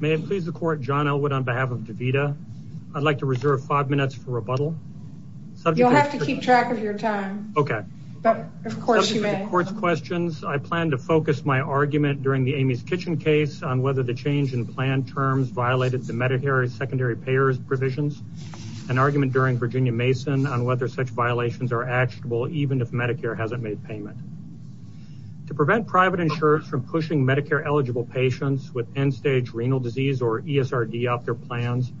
May it please the Court, John Elwood on behalf of DAVITA. I'd like to reserve five minutes for rebuttal. You'll have to keep track of your time. Okay. But of course you may. I plan to focus my argument during the Amy's Kitchen case on whether the change in plan terms violated the Medicare secondary payers provisions. An argument during Virginia Mason on whether such violations are actionable even if Medicare hasn't made payment. To prevent private insurers from pushing Medicare-eligible patients with end-stage renal disease or ESRD off their plans,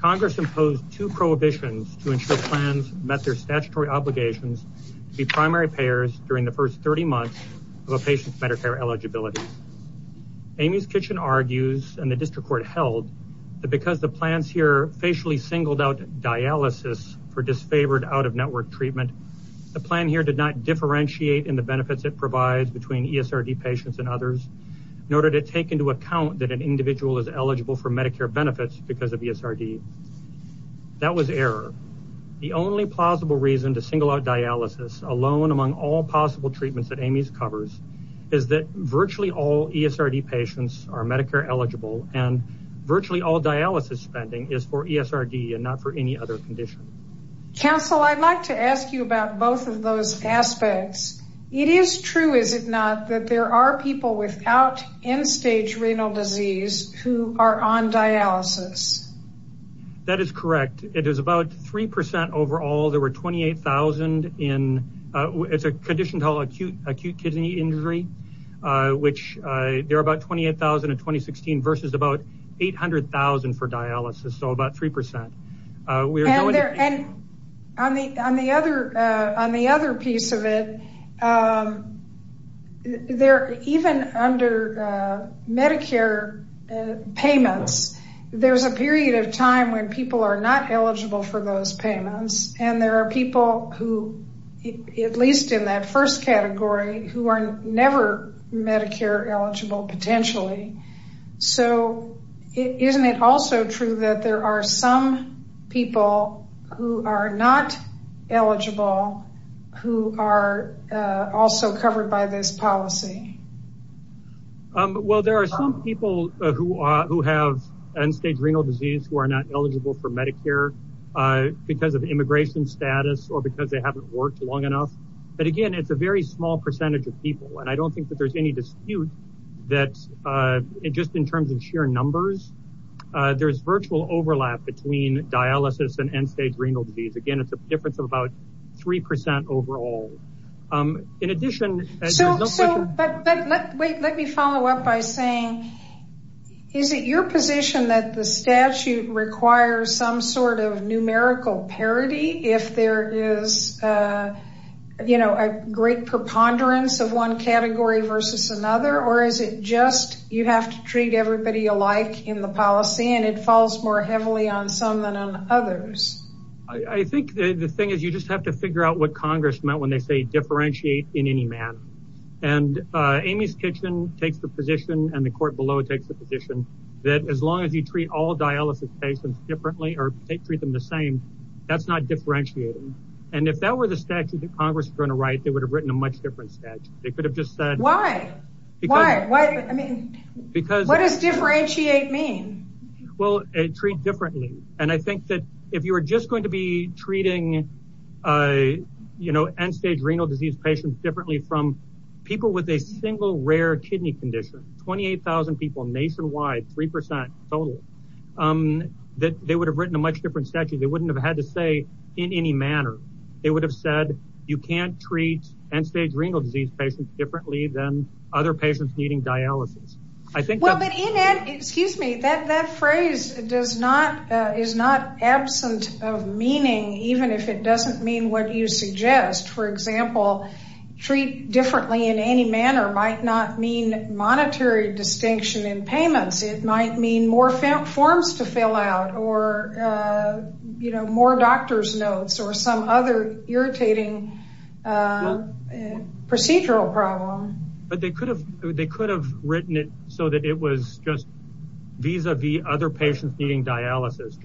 Congress imposed two prohibitions to ensure plans met their statutory obligations to be primary payers during the first 30 months of a patient's Medicare eligibility. Amy's Kitchen argues, and the District Court held, that because the plans here facially singled out dialysis for disfavored out-of-network treatment, the plan here did not differentiate in the benefits it provides between ESRD patients and others, nor did it take into account that an individual is eligible for Medicare benefits because of ESRD. That was error. The only plausible reason to single out dialysis alone among all possible treatments that Amy's covers is that virtually all ESRD patients are Medicare-eligible and virtually all dialysis spending is for ESRD and not for any other condition. Counsel, I'd like to ask you about both of those aspects. It is true, is it not, that there are people without end-stage renal disease who are on dialysis? That is correct. It is about 3 percent overall. There were 28,000 in a condition called acute kidney injury, which there are about 28,000 in 2016 versus about 800,000 for dialysis, so about 3 percent. On the other piece of it, even under Medicare payments, there is a period of time when people are not eligible for those payments. There are people, at least in that first category, who are never Medicare-eligible potentially. Isn't it also true that there are some people who are not eligible who are covered by this policy? There are some people who have end-stage renal disease who are not eligible for Medicare because of immigration status or because they haven't worked long enough. Again, a very small percentage of people. I don't think there is any dispute. Just in terms of sheer numbers, there is virtual overlap between dialysis and end-stage renal disease. Again, it is a difference of about 3 percent overall. Let me follow up by saying, is it your position that the statute requires some sort of numerical parity if there is a great preponderance of one category versus another, or is it just you have to treat everybody alike in the policy and it falls more heavily on some than on others? I think the thing is you just have to figure out what Congress meant when they say differentiate in any manner. Amy's Kitchen takes the position and the court below takes the position that as long as you treat all dialysis patients differently or treat them the same, that is not differentiating. If that were the statute that Congress was going to write, they would have written a much different statute. Why? What does differentiate mean? Treat differently. If you are just going to be treating end-stage renal disease patients differently from people with a single rare kidney condition, 28,000 people nationwide, 3 percent total, they would have written a much different statute. You cannot treat end-stage renal disease patients differently than other patients needing dialysis. That phrase is not absent of meaning even if it does not mean what you suggest. For example, treat differently in any manner might not mean monetary distinction in payments. It might mean more forms to fill out or more doctor's notes or some other irritating procedural problem. They could have written it so that it was just vis-a-vis other patients needing dialysis.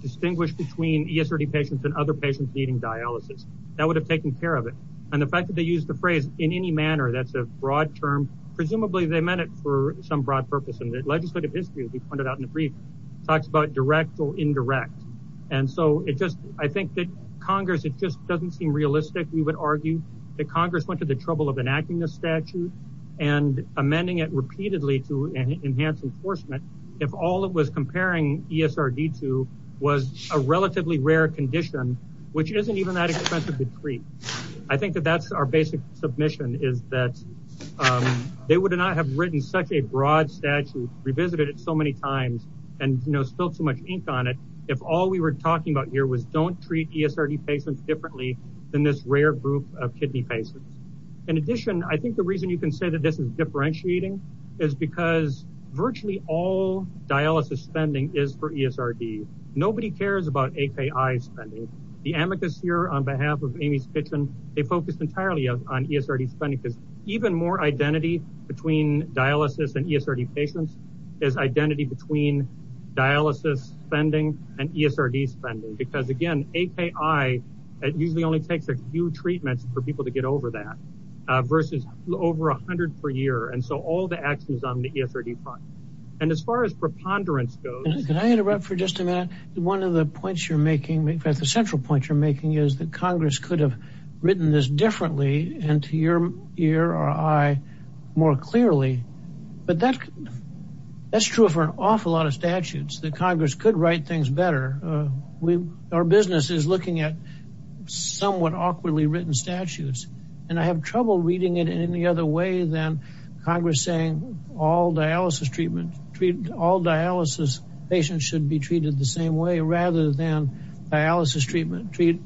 Distinguish between ESRD patients and other patients needing dialysis. That would have taken care of it. The fact that they used the phrase in any manner is a broad term. Presumably, they meant it for some broad purpose. Legislative history talks about direct or indirect. Congress went to the trouble of enacting the statute and amending it repeatedly to enhance enforcement if all it was comparing ESRD to was a relatively rare condition which isn't even that expensive to treat. I think that that's our basic submission is that they would not have written such a broad statute, revisited it so many times, and spilled so much ink on it if all we were talking about here was don't treat ESRD patients differently than this rare group of kidney patients. In addition, I think the reason you can say that this is differentiating is because virtually all dialysis spending is for ESRD. Nobody cares about AKI spending. The amicus here on behalf of Amy's Kitchen, they focused entirely on ESRD spending because even more identity between dialysis and ESRD patients is identity between dialysis spending and ESRD spending because again, AKI, it usually only takes a few treatments for people to get over that versus over 100 per year and so all the One of the points you're making, the central point you're making is that Congress could have written this differently and to your ear or eye more clearly, but that's true for an awful lot of statutes that Congress could write things better. Our business is looking at somewhat awkwardly written statutes and I have trouble reading it in any other way than Congress saying all dialysis treatment treat all dialysis patients should be treated the same way rather than dialysis treatment treat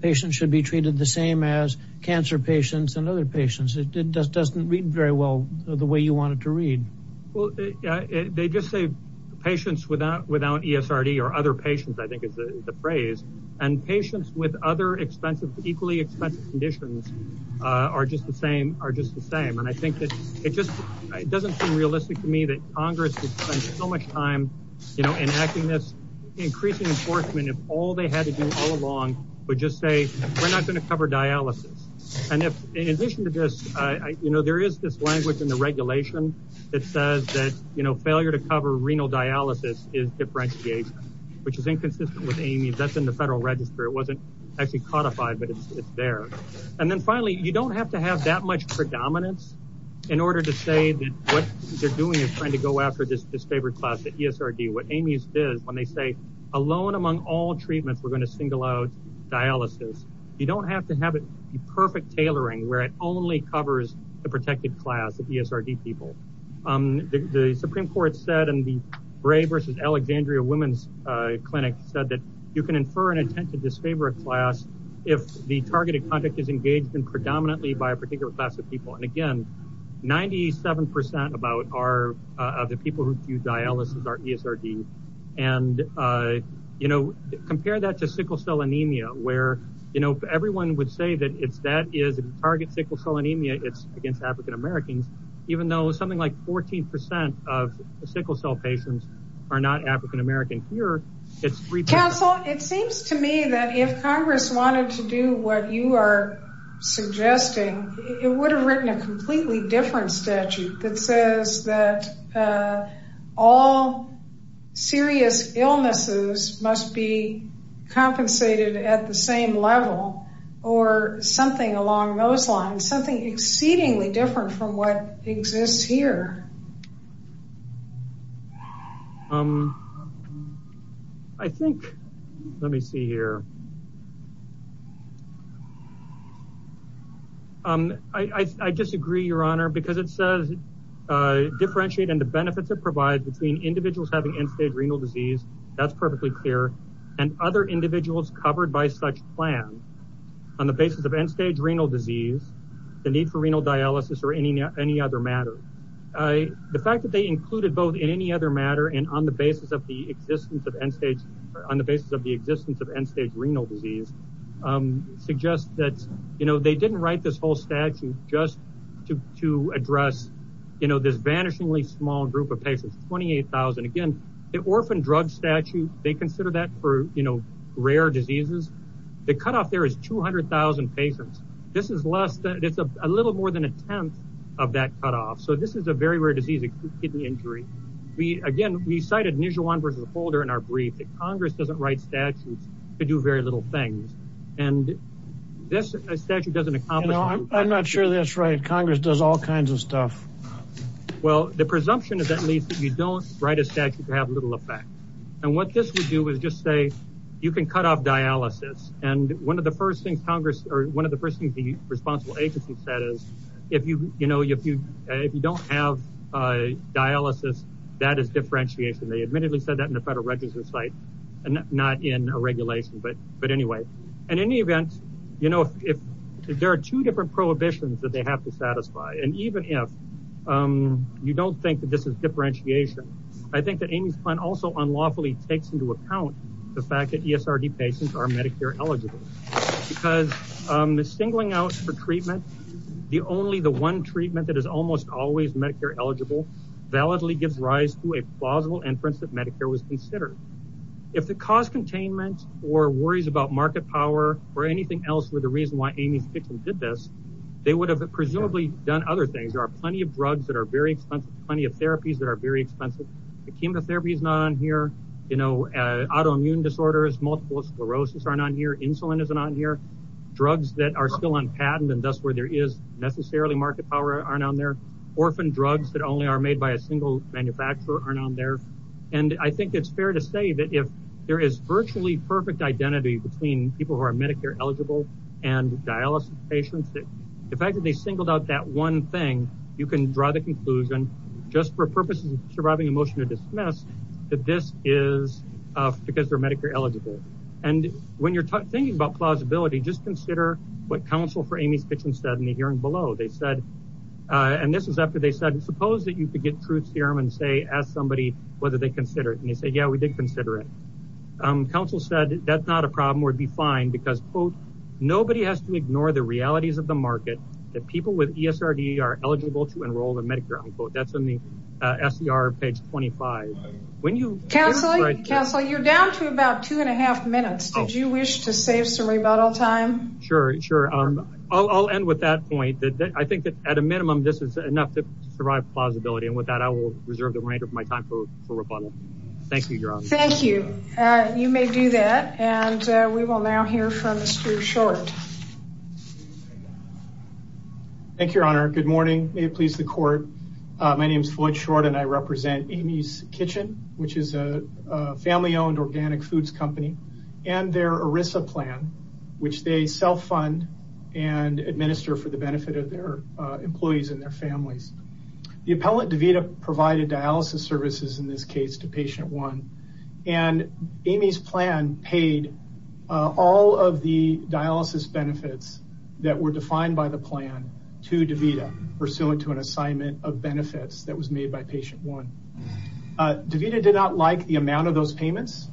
patients should be treated the same as cancer patients and other patients. It just doesn't read very well the way you want it to read. Well, they just say patients without without ESRD or other patients I think is the phrase and patients with other expensive equally expensive conditions are just the same are just the same and I think that it doesn't seem realistic to me that Congress has spent so much time, you know, enacting this increasing enforcement if all they had to do all along would just say we're not going to cover dialysis and if in addition to this, you know, there is this language in the regulation that says that, you know, failure to cover renal dialysis is differentiation which is inconsistent with any that's in the federal register. It wasn't actually codified but it's there and then finally you don't have to have that much predominance in order to say that what they're doing is trying to go after this disfavored class at ESRD. What Amy's is when they say alone among all treatments we're going to single out dialysis. You don't have to have it the perfect tailoring where it only covers the protected class of ESRD people. The Supreme Court said and the Bray versus Alexandria Women's Clinic said that you can infer and attempt to disfavor a class if the targeted conduct is engaged in predominantly by a particular class of people and again 97 percent of the people who do dialysis are ESRD and, you know, compare that to sickle cell anemia where, you know, everyone would say that if that is a target sickle cell anemia it's against African Americans even though something like 14 percent of sickle cell patients are not African Americans. If you are suggesting it would have written a completely different statute that says that all serious illnesses must be compensated at the same level or something along those lines something exceedingly different from what exists here. I think let me see here I disagree your honor because it says differentiate and the benefits it provides between individuals having end-stage renal disease that's perfectly clear and other individuals covered by such plan on the basis of end-stage renal disease the need for renal dialysis or any any other matter. The fact that they included both in any other matter and on the basis of the existence of end-stage on the basis of the existence of end-stage renal disease suggests that you know they didn't write this whole statute just to address you know this vanishingly small group of patients 28,000 again the orphan drug statute they consider that for you know rare diseases the cutoff there is 200,000 patients this is less than it's a little more than a tenth of that cutoff so this is a very rare disease a kidney injury we again we cited Nijuan versus doesn't accomplish I'm not sure that's right Congress does all kinds of stuff well the presumption is at least that you don't write a statute to have little effect and what this would do is just say you can cut off dialysis and one of the first things Congress or one of the first things the responsible agency said is if you you know if you if you don't have dialysis that is differentiation they admittedly said that in the federal register site and not in a regulation but anyway in any event you know if there are two different prohibitions that they have to satisfy and even if you don't think that this is differentiation I think that Amy's plan also unlawfully takes into account the fact that ESRD patients are Medicare eligible because the singling out for treatment the only the one treatment that is almost always Medicare eligible validly gives rise to a plausible inference that Medicare was considered if the cost containment or worries about market power or anything else were the reason why Amy's victim did this they would have presumably done other things there are plenty of drugs that are very expensive plenty of therapies that are very expensive the chemotherapy is not on here you know autoimmune disorders multiple sclerosis aren't on here insulin is not here drugs that are still on patent and thus where there is necessarily market power aren't on there orphan drugs that only are by a single manufacturer aren't on there and I think it's fair to say that if there is virtually perfect identity between people who are Medicare eligible and dialysis patients that the fact that they singled out that one thing you can draw the conclusion just for purposes of surviving a motion to dismiss that this is because they're Medicare eligible and when you're thinking about plausibility just consider what counsel for Amy's kitchen said in the hearing below they said and this is after they said suppose that you could get truth serum and say ask somebody whether they consider it and they said yeah we did consider it counsel said that's not a problem we'd be fine because quote nobody has to ignore the realities of the market that people with ESRD are eligible to enroll in Medicare unquote that's in the SCR page 25 when you counsel counsel you're down to about two and a half minutes did you wish to save some rebuttal time sure sure I'll end with that point that I think that at a minimum this is enough to survive plausibility and with that I will reserve the remainder of my time for for rebuttal thank you your honor thank you you may do that and we will now hear from Mr. Short thank you your honor good morning may it please the court my name is Floyd Short and I represent Amy's Kitchen which is a family-owned organic foods company and their plan is to self-fund and administer for the benefit of their employees and their families the appellate DeVita provided dialysis services in this case to patient one and Amy's plan paid all of the dialysis benefits that were defined by the plan to DeVita pursuant to an assignment of benefits that was made by patient one. DeVita did not like the amount of those payments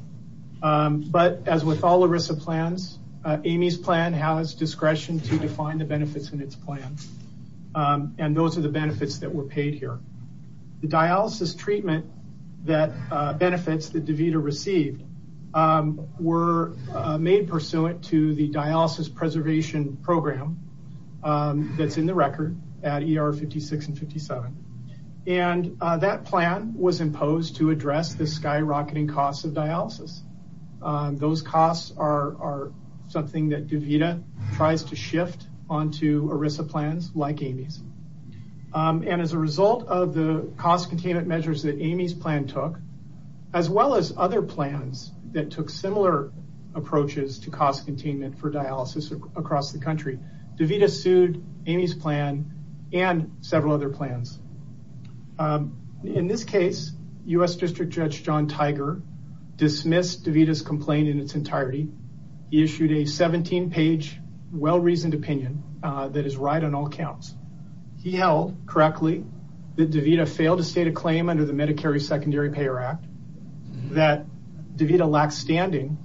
but as with all ERISA plans Amy's plan has discretion to define the benefits in its plan and those are the benefits that were paid here the dialysis treatment that benefits that DeVita received were made pursuant to the dialysis preservation program that's in the record at ER 56 and 57 and that plan was imposed to address the skyrocketing costs of dialysis those costs are are something that DeVita tries to shift onto ERISA plans like Amy's and as a result of the cost containment measures that Amy's plan took as well as other plans that took similar approaches to cost containment for dialysis across the country DeVita sued Amy's plan and several other plans in this case U.S. District Judge John Tiger dismissed DeVita's complaint in its entirety he issued a 17 page well-reasoned opinion that is right on all counts he held correctly that DeVita failed to state a claim under the Medicare Secondary Payer Act that DeVita lacks standing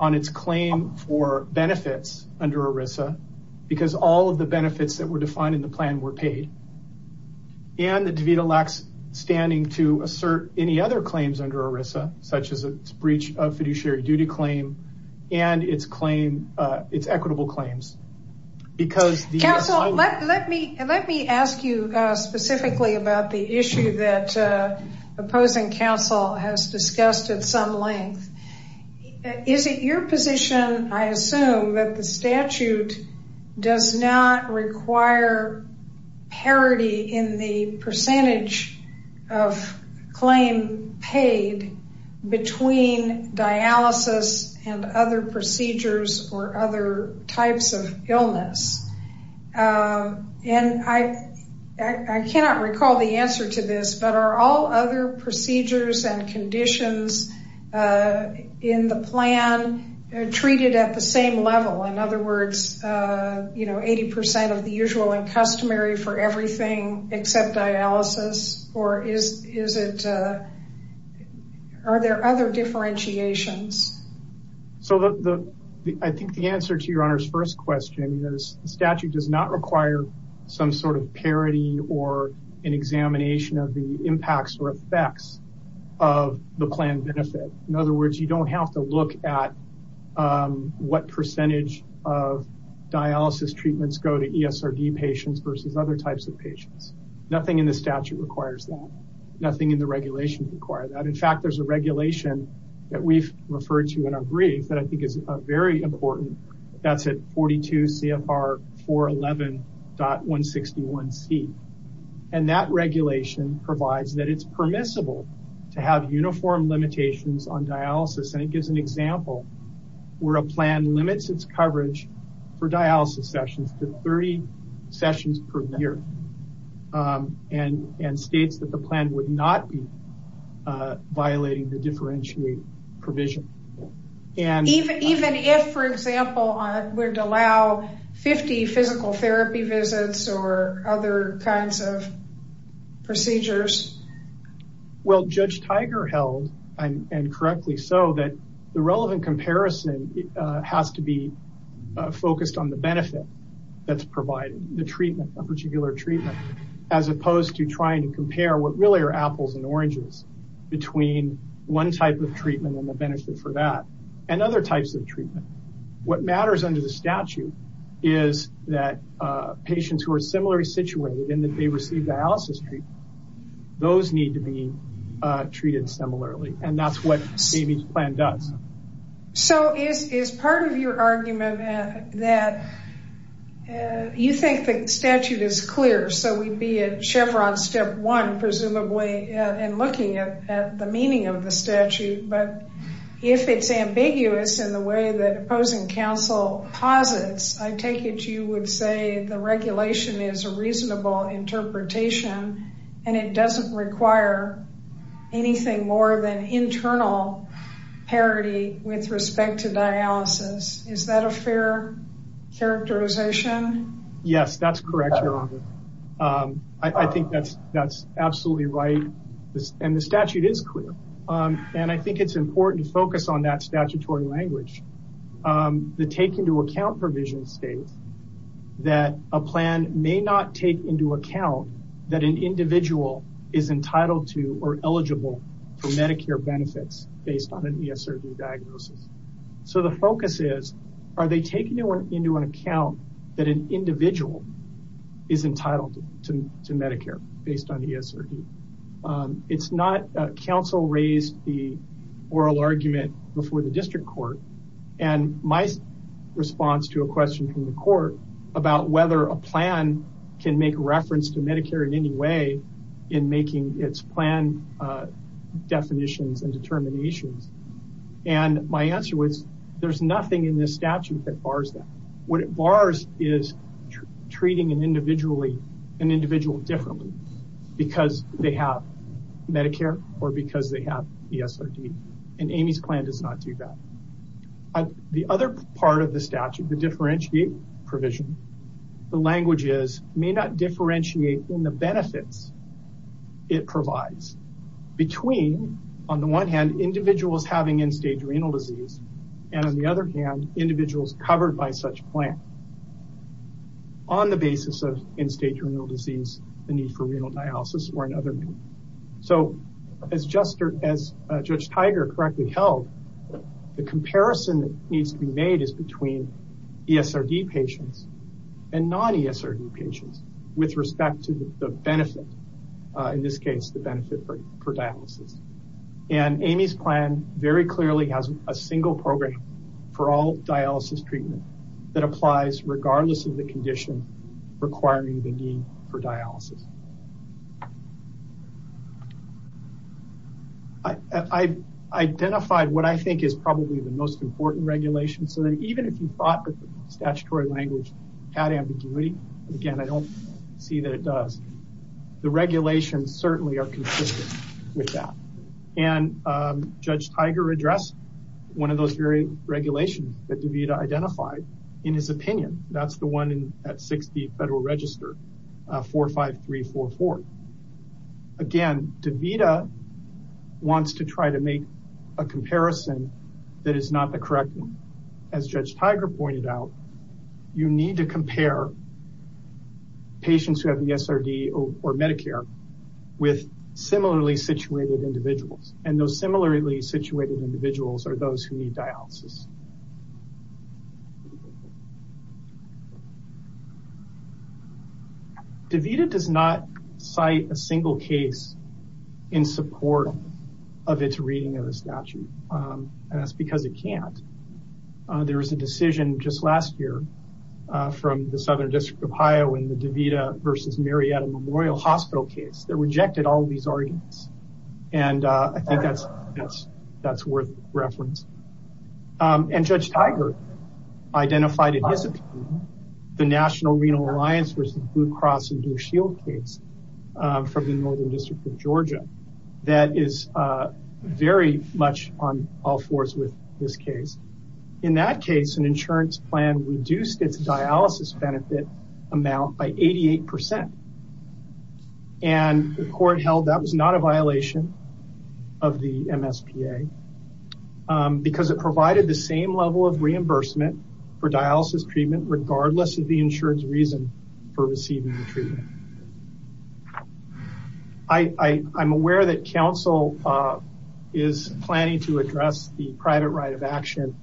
on its claim for benefits under ERISA because all of the benefits that were defined in the plan were paid and the DeVita lacks standing to assert any other claims under ERISA such as a breach of fiduciary duty claim and its claim its equitable claims because let me let me ask you specifically about the issue that opposing counsel has discussed at some length is it your position I assume that the statute does not require parity in the percentage of claim paid between dialysis and other procedures or other types of illness and I I cannot recall the answer to this but are all other procedures and conditions in the plan treated at the same level in other words you know 80 percent of the usual and customary for everything except dialysis or is is it are there other differentiations so the the I think the answer to your honor's first question is the statute does not require some sort of parity or an examination of the impacts or effects of the plan benefit in other words you don't have to look at what percentage of dialysis treatments go to ESRD patients versus other types of patients nothing in the statute requires that nothing in the regulation require that in fact there's a regulation that we've referred to in our brief that I think is very important that's at 42 CFR 411.161c and that regulation provides that it's permissible to have uniform limitations on dialysis and it gives an example where a plan limits its coverage for dialysis sessions to 30 sessions per year and and states that the plan would not be violating the differentiate provision and even even if for example we're to allow 50 physical therapy visits or other kinds of procedures well Judge Tiger held and and correctly so that the relevant comparison has to be focused on the benefit that's provided the treatment a particular treatment as opposed to trying to compare what really are apples and one type of treatment and the benefit for that and other types of treatment what matters under the statute is that patients who are similarly situated and that they receive dialysis treatment those need to be treated similarly and that's what the plan does. So is part of your argument that you think the statute is clear so we'd be at chevron step one presumably and looking at the meaning of the statute but if it's ambiguous in the way that opposing council posits I take it you would say the regulation is a reasonable interpretation and it doesn't require anything more than internal parity with respect to dialysis is that a fair characterization? Yes that's correct your honor I think that's that's absolutely right and the statute is clear and I think it's important to focus on that statutory language the take into account provision states that a plan may not take into account that an individual is entitled to or eligible for medicare benefits based on an ESRD diagnosis. So the focus is are they taking into an account that an individual is entitled to medicare based on ESRD. It's not council raised the oral argument before the district court and my response to a question from the court about whether a plan can make reference to medicare in any way in making its plan definitions and is treating an individual differently because they have medicare or because they have ESRD and Amy's plan does not do that. The other part of the statute the differentiate provision the language is may not differentiate in the benefits it provides between on the one hand individuals having end-stage renal disease and on the other hand individuals covered by such plan on the basis of end-stage renal disease the need for renal dialysis or another. So as Judge Tiger correctly held the comparison that needs to be made is between ESRD patients and non-ESRD patients with respect to the benefit in this case the benefit for dialysis. And Amy's plan very clearly has a single program for all dialysis treatment that applies regardless of the condition requiring the need for dialysis. I identified what I think is probably the most important regulation so that even if you thought that the statutory language had ambiguity again I don't see that it does. The regulations certainly are consistent with that and Judge Tiger addressed one of those very regulations that DeVita identified in his opinion that's the one at 60 Federal Register 45344. Again DeVita wants to try to make a comparison that is not the correct one. As Judge Tiger pointed out you need to compare patients who have ESRD or Medicare with similarly situated individuals and those similarly situated individuals are those who need dialysis. DeVita does not cite a single case in support of its reading of the statute and that's because it can't. There was a decision just last year from the Southern District of Ohio in the DeVita versus Marietta Memorial Hospital case that rejected all these arguments and I think that's worth reference. And Judge Tiger identified in his opinion the National Renal Alliance versus Blue Cross and Blue Shield case from the Northern District of Georgia that is very much on all this case. In that case an insurance plan reduced its dialysis benefit amount by 88 percent and the court held that was not a violation of the MSPA because it provided the same level of reimbursement for dialysis treatment regardless of the insurance reason for receiving the treatment. I'm aware that counsel is planning to address the private right of action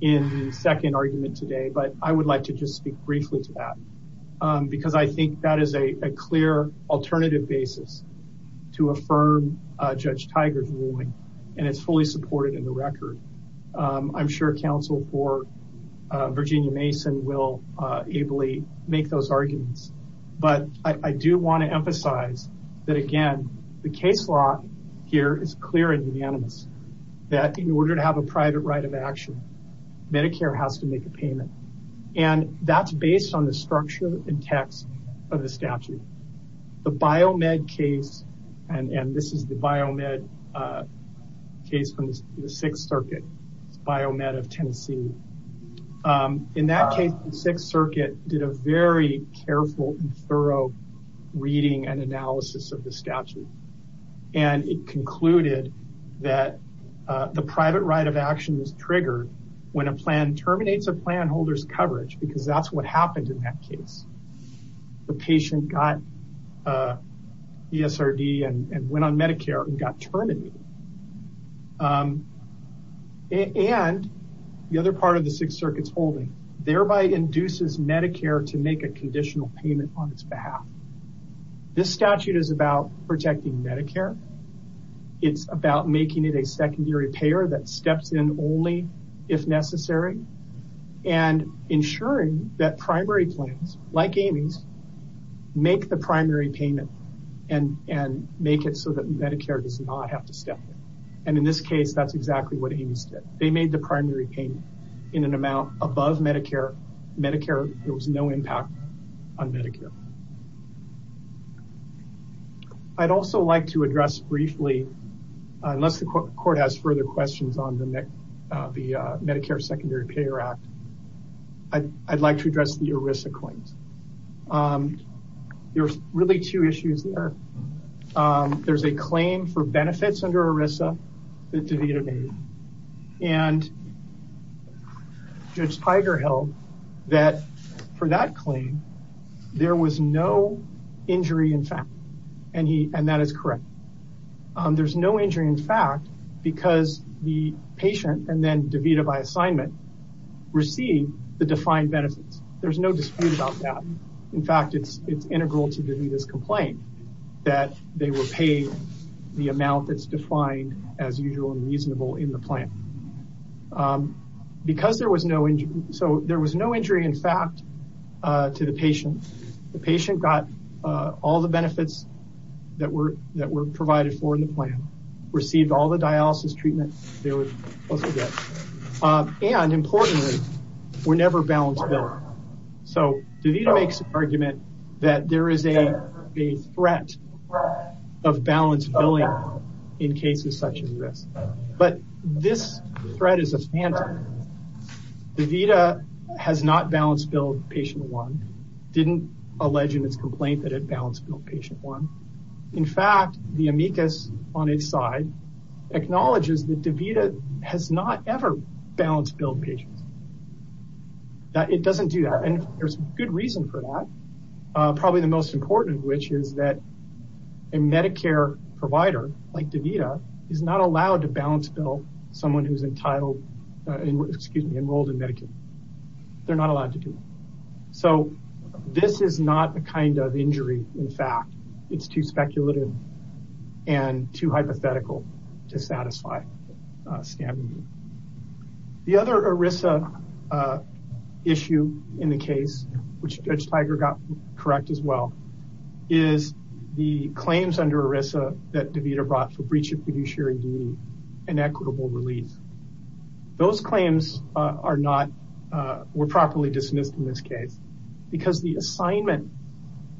in the second argument today but I would like to just speak briefly to that because I think that is a clear alternative basis to affirm Judge Tiger's ruling and it's fully supported in the record. I'm sure counsel for Virginia Mason will ably make those arguments but I do want to emphasize that again the case law here is clear and unanimous that in order to have a private right of action Medicare has to make a payment and that's based on the structure and text of the statute. The Biomed case and this is the Biomed case from the Sixth Circuit, Biomed of Tennessee. In that case the Sixth Circuit did a very careful and thorough reading and analysis of the statute and it concluded that the private right of action is triggered when a plan terminates a plan holder's coverage because that's what happened in that case. The patient got ESRD and went on Medicare and got terminated and the other part of the Sixth Circuit's holding thereby induces Medicare to make a conditional payment on its behalf. This statute is about protecting Medicare. It's about making it a like Amy's, make the primary payment and make it so that Medicare does not have to step in and in this case that's exactly what Amy's did. They made the primary payment in an amount above Medicare. There was no impact on Medicare. I'd also like to address briefly unless the court has further questions on the Medicare Secondary Payer Act, I'd like to address the ERISA claims. There's really two issues there. There's a claim for benefits under ERISA that DeVita made and Judge Tiger held that for that claim there was no injury in fact and that is correct. There's no injury in fact because the patient and then DeVita by assignment received the defined benefits. There's no dispute about that. In fact, it's integral to DeVita's complaint that they were paid the amount that's defined as usual and reasonable in the plan. There was no injury in fact to the patient. The patient got all the benefits that were provided for in the plan, received all the dialysis treatment they were supposed to get and importantly were never balance billed. DeVita makes an argument that there is a threat of balance billing in cases such as this but this threat is a phantom. DeVita has not balance billed patient one, didn't allege in its complaint that it balance billed patient one. In fact, the amicus on its side acknowledges that DeVita has not ever balance billed patients. It doesn't do that and there's good reason for that. Probably the most important which is that a Medicare provider like DeVita is not allowed to balance bill someone who's they're not allowed to do. This is not a kind of injury. In fact, it's too speculative and too hypothetical to satisfy. The other ERISA issue in the case which Judge Tiger got correct as well is the claims under ERISA that DeVita brought for breach of fiduciary duty and equitable release. Those claims are not were properly dismissed in this case because the assignment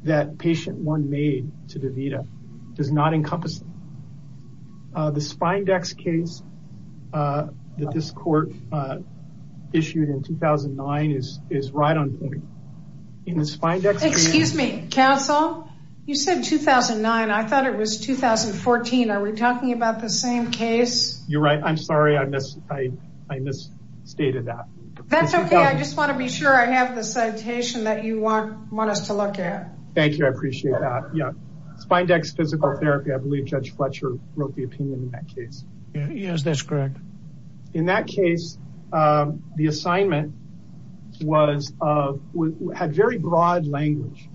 that patient one made to DeVita does not encompass the spindex case that this court issued in 2009 is right on point. In the spindex case... You're right. I'm sorry. I misstated that. That's okay. I just want to be sure I have the citation that you want us to look at. Thank you. I appreciate that. Spindex physical therapy. I believe Judge Fletcher wrote the opinion in that case. Yes, that's correct. In that case, the assignment had very broad language.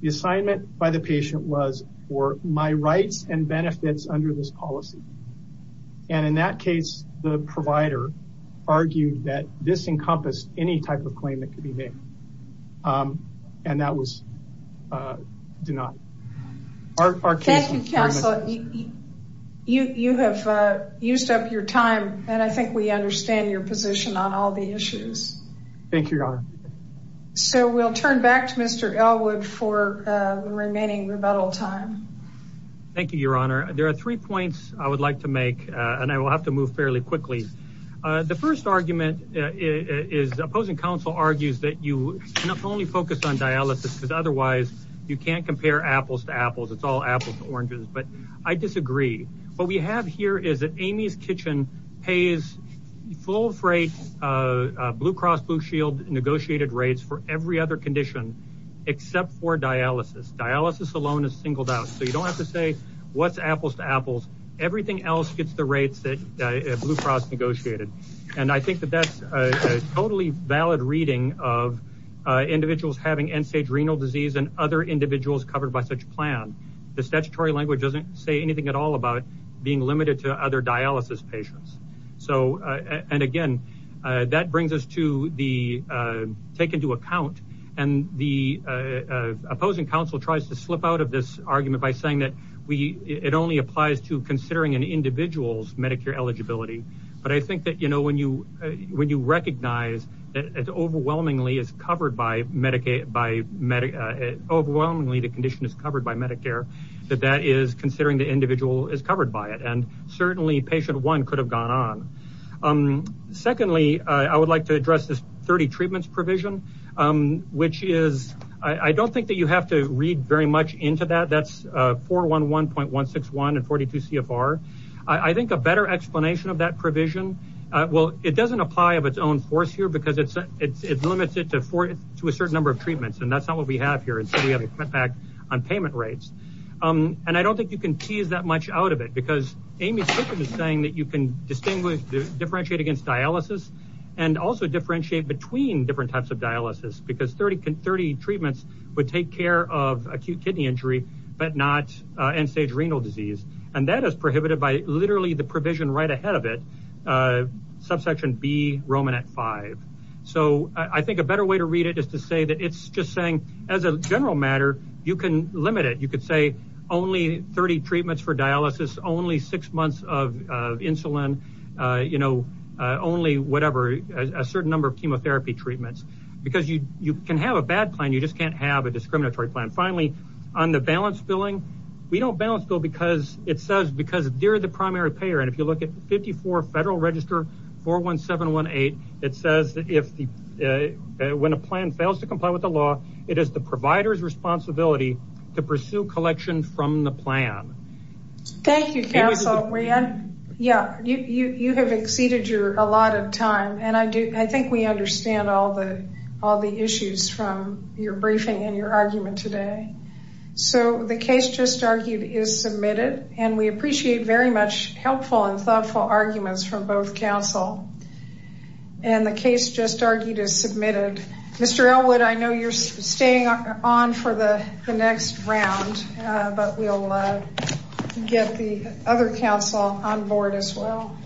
The assignment by the patient was for my rights and benefits under this policy. In that case, the provider argued that this encompassed any type of claim that could be made. That was denied. You have used up your time. I think we understand your position on all the issues. Thank you, Your Honor. So we'll turn back to Mr. Elwood for the remaining rebuttal time. Thank you, Your Honor. There are three points I would like to make. I will have to move fairly quickly. The first argument is opposing counsel argues that you can only focus on dialysis because otherwise you can't compare apples to apples. It's all apples to oranges. I disagree. What we have here is that Amy's Kitchen pays full freight Blue Cross Blue Shield negotiated rates for every other condition except for dialysis. Dialysis alone is singled out. You don't have to say what's apples to apples. Everything else gets the rates that Blue Cross negotiated. I think that's a totally valid reading of individuals having end-stage renal disease and other individuals covered by such plan. The statutory language doesn't say anything at all about being limited to other dialysis patients. That brings us to the take into account. The opposing counsel tries to slip out of this argument by saying that it only applies to considering an individual's Medicare eligibility. But I think that when you recognize that overwhelmingly the condition is covered by it and certainly patient one could have gone on. Secondly, I would like to address this 30 treatments provision which is I don't think you have to read very much into that. That's 411.161 and 42 CFR. I think a better explanation of that provision, it doesn't apply of its own force here because it limits it to a certain number of treatments. That's not what we have here. We Amy is saying that you can differentiate against dialysis and also differentiate between different types of dialysis because 30 treatments would take care of acute kidney injury but not end-stage renal disease. That is prohibited by literally the provision right ahead of it, subsection B, Roman at 5. I think a better way to read it is to say that it's just saying as a treatment for dialysis, only six months of insulin, you know, only whatever, a certain number of chemotherapy treatments. Because you can have a bad plan, you just can't have a discriminatory plan. Finally, on the balance billing, we don't balance bill because it says because they are the primary payer. If you look at 54 Federal Register 41718, it says when a plan fails to comply with the law, it is the provider's responsibility to pursue collection from the plan. Thank you, counsel. You have exceeded your a lot of time and I think we understand all the issues from your briefing and your argument today. So the case just argued is submitted and we appreciate very much helpful and thoughtful arguments from both counsel. And the case just argued is submitted. Mr. Elwood, I know you're staying on for the next round but we'll get the other counsel on board as well.